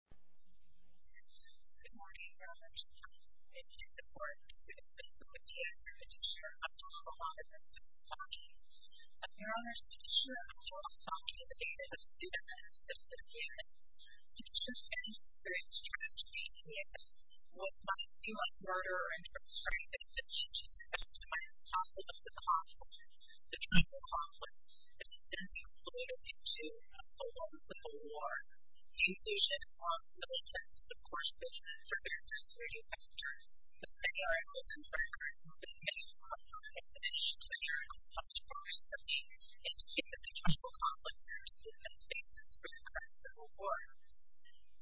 Good morning, Your Honors. Thank you for your support. This is Loretta E. Lynch, the teacher of Al-Faqih v. Loretta E. Lynch. Your Honors, the teacher of Al-Faqih v. Loretta E. Lynch is a student of the System of Human Rights. The System of Human Rights tries to make human rights what might seem like murder or infringement of human rights. This is the title of the conference, The Tribal Conflict. It's been included in two of the loans of the war. The inclusion of the loans has, of course, been further exacerbated by the turn of the 20th century. The 20th century is a record of the many crimes and punishments of the 20th century, indicating that the Tribal Conflict serves as the basis for the current civil war.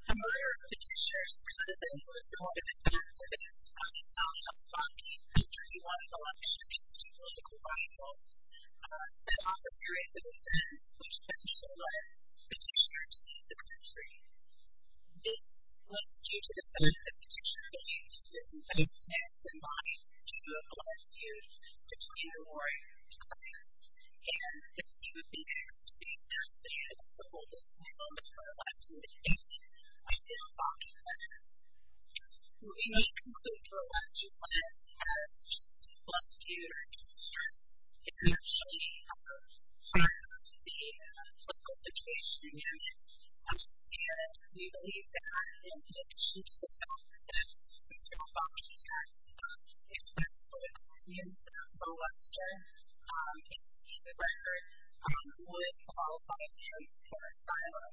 The murder of the teachers could have been more similar to the death of Al-Faqih v. Loretta E. Lynch, who was a political rival, set off a series of events which eventually led the teachers to leave the country. This was due to the fact that the teachers believed that there was no chance in life due to a political feud between the warring tribes, and that they would be next to be left in the hands of Al-Faqih v. Loretta E. Lynch. We may conclude Al-Faqih v. Loretta E. Lynch as just a plus two to her teacher. It may have shown her perhaps the political situation again, and we believe that in addition to the fact that Al-Faqih v. Loretta E. Lynch expressly accused Al-Faqih v. Loretta E. Lynch of being a rapist, it may be the record who would qualify him for asylum.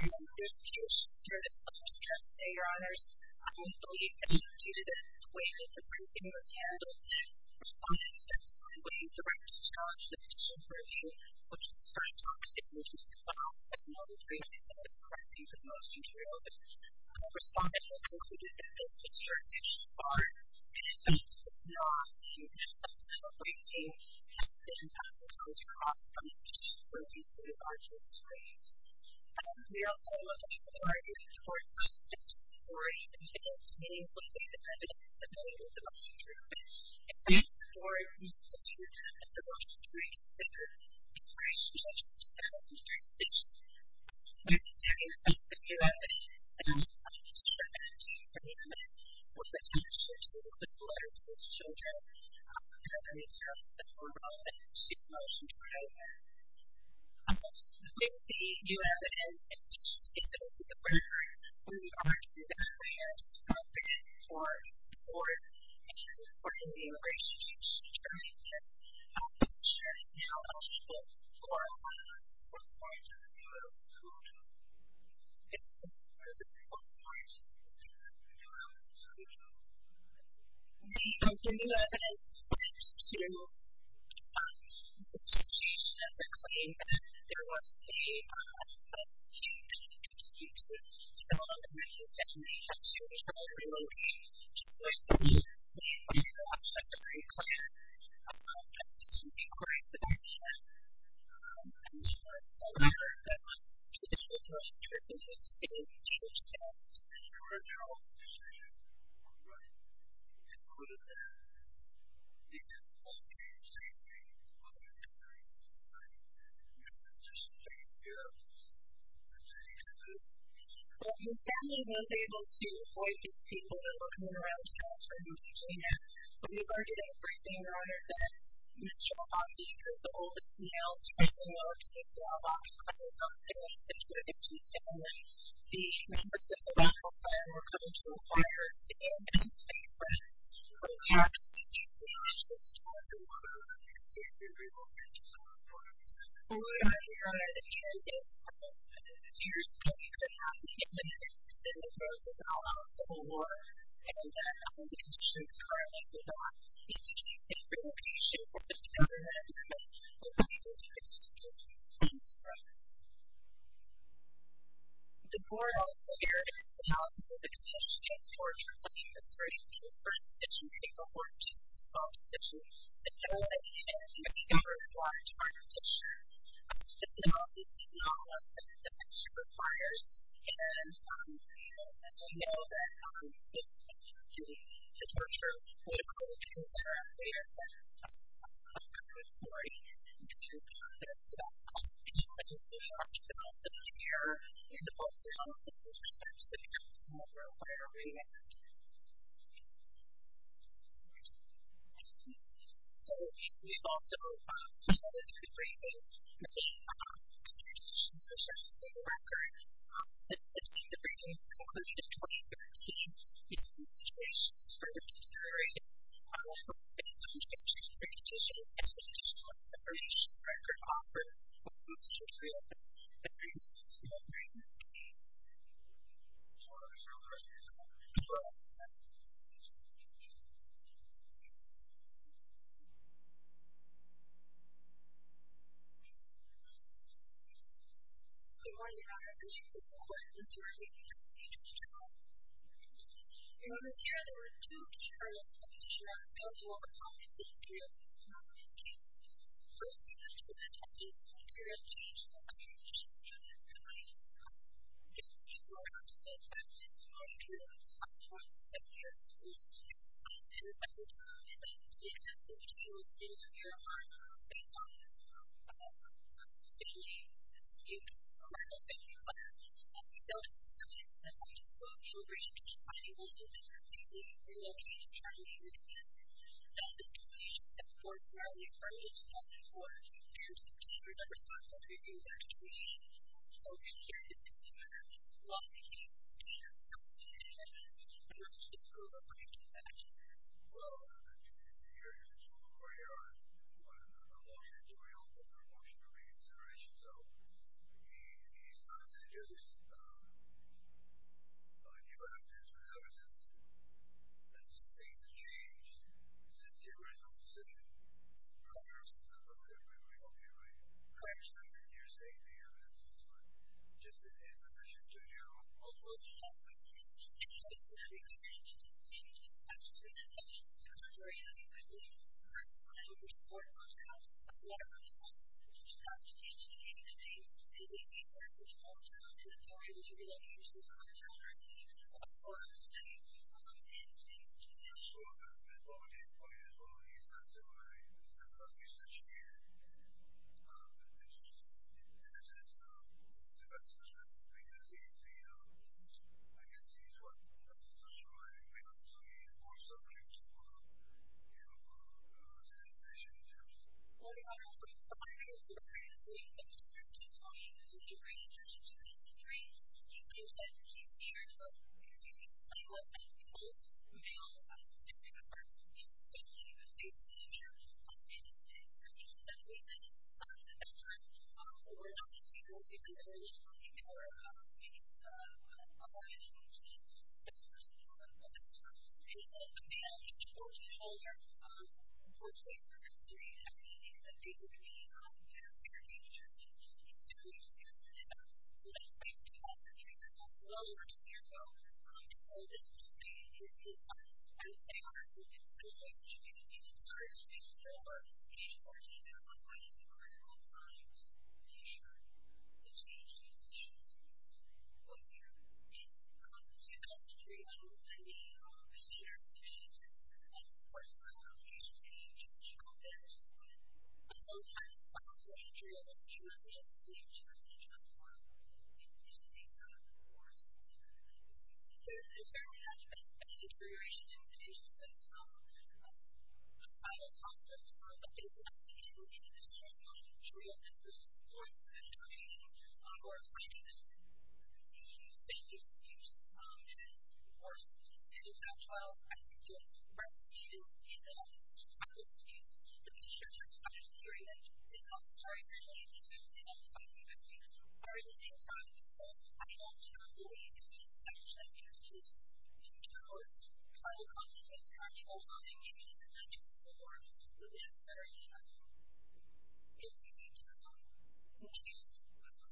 I don't know this case. Sir, let me just say, Your Honors, I don't believe that due to the way that the briefing was handled, the Respondent, at some point, directly charged the petitioner for a view which expressed opposite interests, but also, as noted earlier, some of the corrections of motion to reopen. The Respondent has concluded that this was her initial bargain, and that this was not a breach of the law, and that the fact that Al-Faqih has been having those cross-constitutional views to the largest extent. We also note that the authorities have reported that the petition's authority contains meaningfully the evidence that may have been used in motion to reopen. It is therefore a reasonable treatment that the motion to reconsider is greatly judged as a necessary statement. My understanding is that the U.S. has now come to terms with the amendment with the letter to its children, and that there needs to be a formal amendment to the motion to reopen. In the U.S. and its institutions, it is aware that we are in the process of looking for support and for a new resolution to determine this. This measure is now eligible for one of the four points of the U.S. Constitution. This is one of the four points of the U.S. Constitution. The U.S. has pledged to the Constitution of the Queen that there will be a change in the Constitution so long as the Constitution is held remotely to avoid the breach of the Constitution. The members of the White House are welcome to inquire, stand, and speak for themselves. We ask that you pledge to support the motion to reopen. We are here in a period of time. Years ago, we could not be in the midst of a civil war, and the conditions currently The court also heard an analysis of the conditions for a tribunal history in the first stitching of April 14th, 12th stitching. The penalty is to be governed by a charge of torture. This is obviously not one that the Constitution requires, and as we know, that is a charge of torture. Political interests are out there. That's a common story. We can discuss that. Obviously, the court should also be here. And the court should also take some steps to make sure that we are aware of that. So, we've also held a debriefing. We've made contributions to the civil record. It seems the briefing was concluded in 2013. It seems the situation is further deteriorating. I would like to make some suggestions in addition to the presentation of the briefs that could offer a motion to reopen. Thank you. Thank you. Thank you. Thank you. Thank you. Thank you. Good morning, Your Honor. My name is Elizabeth Warren. This is my brief. Thank you for your time. In this hearing, there were two key arguments that the petitioner failed to overcome in the history of the criminal justice case. First, he went to the attorney's room to review each of the contributions he made in his brief. The attorney's room had a small room of 27 years old, and the attorney's room had six individuals in it. Your Honor, based on the state name, the state criminal family plan, we felt it was appropriate for the attorney's room to be slightly larger than the previously relocated attorney's room. That's a situation that, of course, we are only a part of. It's not for the parents of the petitioner to respond to every single attorney's issue. So, in here, in this hearing, it's the law's case. It's the attorney's house. It's the attorney's home. Your Honor, this is a criminal case. Actually, it is. Well, Your Honor, this is a criminal case. Your Honor, this is a longitudinal and promotional reconsideration. So, he's not just a new activist. However, there's been some things that have changed since the original decision. Congress has approved it. We don't hear it. Congress hasn't been here saying any of this. Mr. Buesta? I can't see you, Your Honor. I can't see you. Your Honor, I'm sorry. I can't see you. Because, Your Honor, I'm sorry to interrupt. Your Honor, I'm sorry to interrupt. Your Honor, I'm sorry to interrupt. Mr. Buesta, I can't see you. I can't see you. Your Honor, I'm sorry to interrupt. The petitioner's testimony, which is the original judge of this country, he claims that he's here because he was the most male member in the family of a state senator, and he was the most neutral member in support of segregation or assigning him to the standard suit, which is, of course, the standard child trial. I think it was recommended in the final suit. The petitioner's testimony is very much in line with the standard of the Fife family or the same family, so I don't believe it's his assumption. In general, his final comment is kind of overwhelming. I don't think any of the legislators would necessarily include him in any of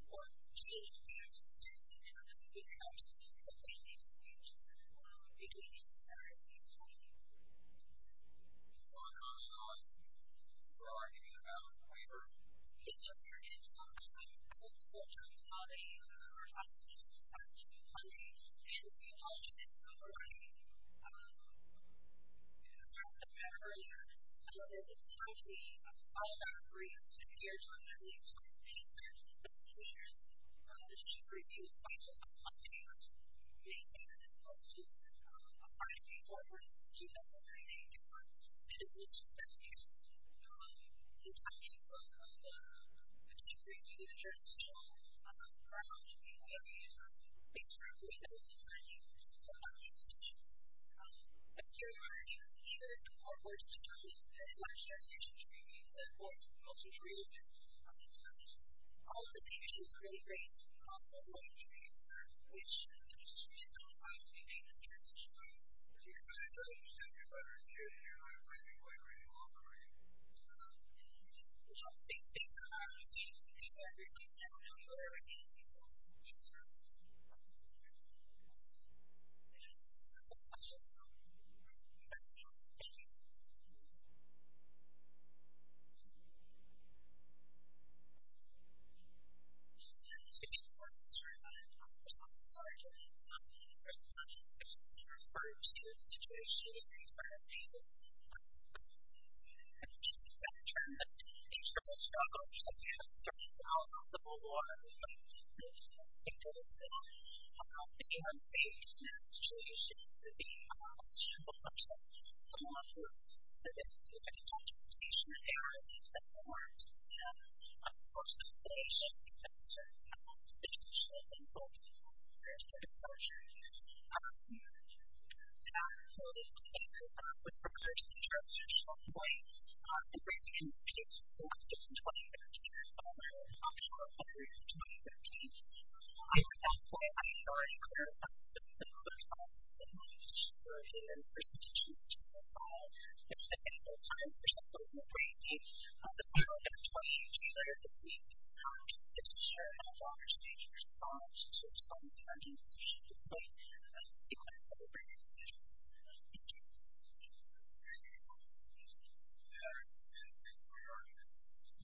the court cases. I don't think it's his assumption that he would have to make a family dispute between him and her if he wanted to. Moving on, on, and on. We're arguing about whoever disappeared into the family. I think the court judge saw that either her son or his son was being punished, and he apologized for that. In the first of the matter earlier, it was said that the family filed an appraisal and appeared to have not leaved home. He said that the petitioner's petition previews filed on Monday, May 7th, 2012, a five-day forbearance, two-day for three-day deferral. It is not the case. The timing of the petition previews and jurisdictional trial should be a way of using a place for the petitioner. And so, even if the court were to determine that the petitioner's petition previews and what's revealed, all of the petitions are going to be raised to the cost of the petition previews, which the petitioner is only going to be paid if the petition previews. So, you're going to have your letter here, and you're going to have your letter in the law firm, right? Well, based on our understanding of the case, I don't know where we need to be going with the petition previews. Thank you. Are there any questions about the petition previews? Thank you. Thank you. Thank you. Thank you. Thank you. Thank you. Thank you. Thank you.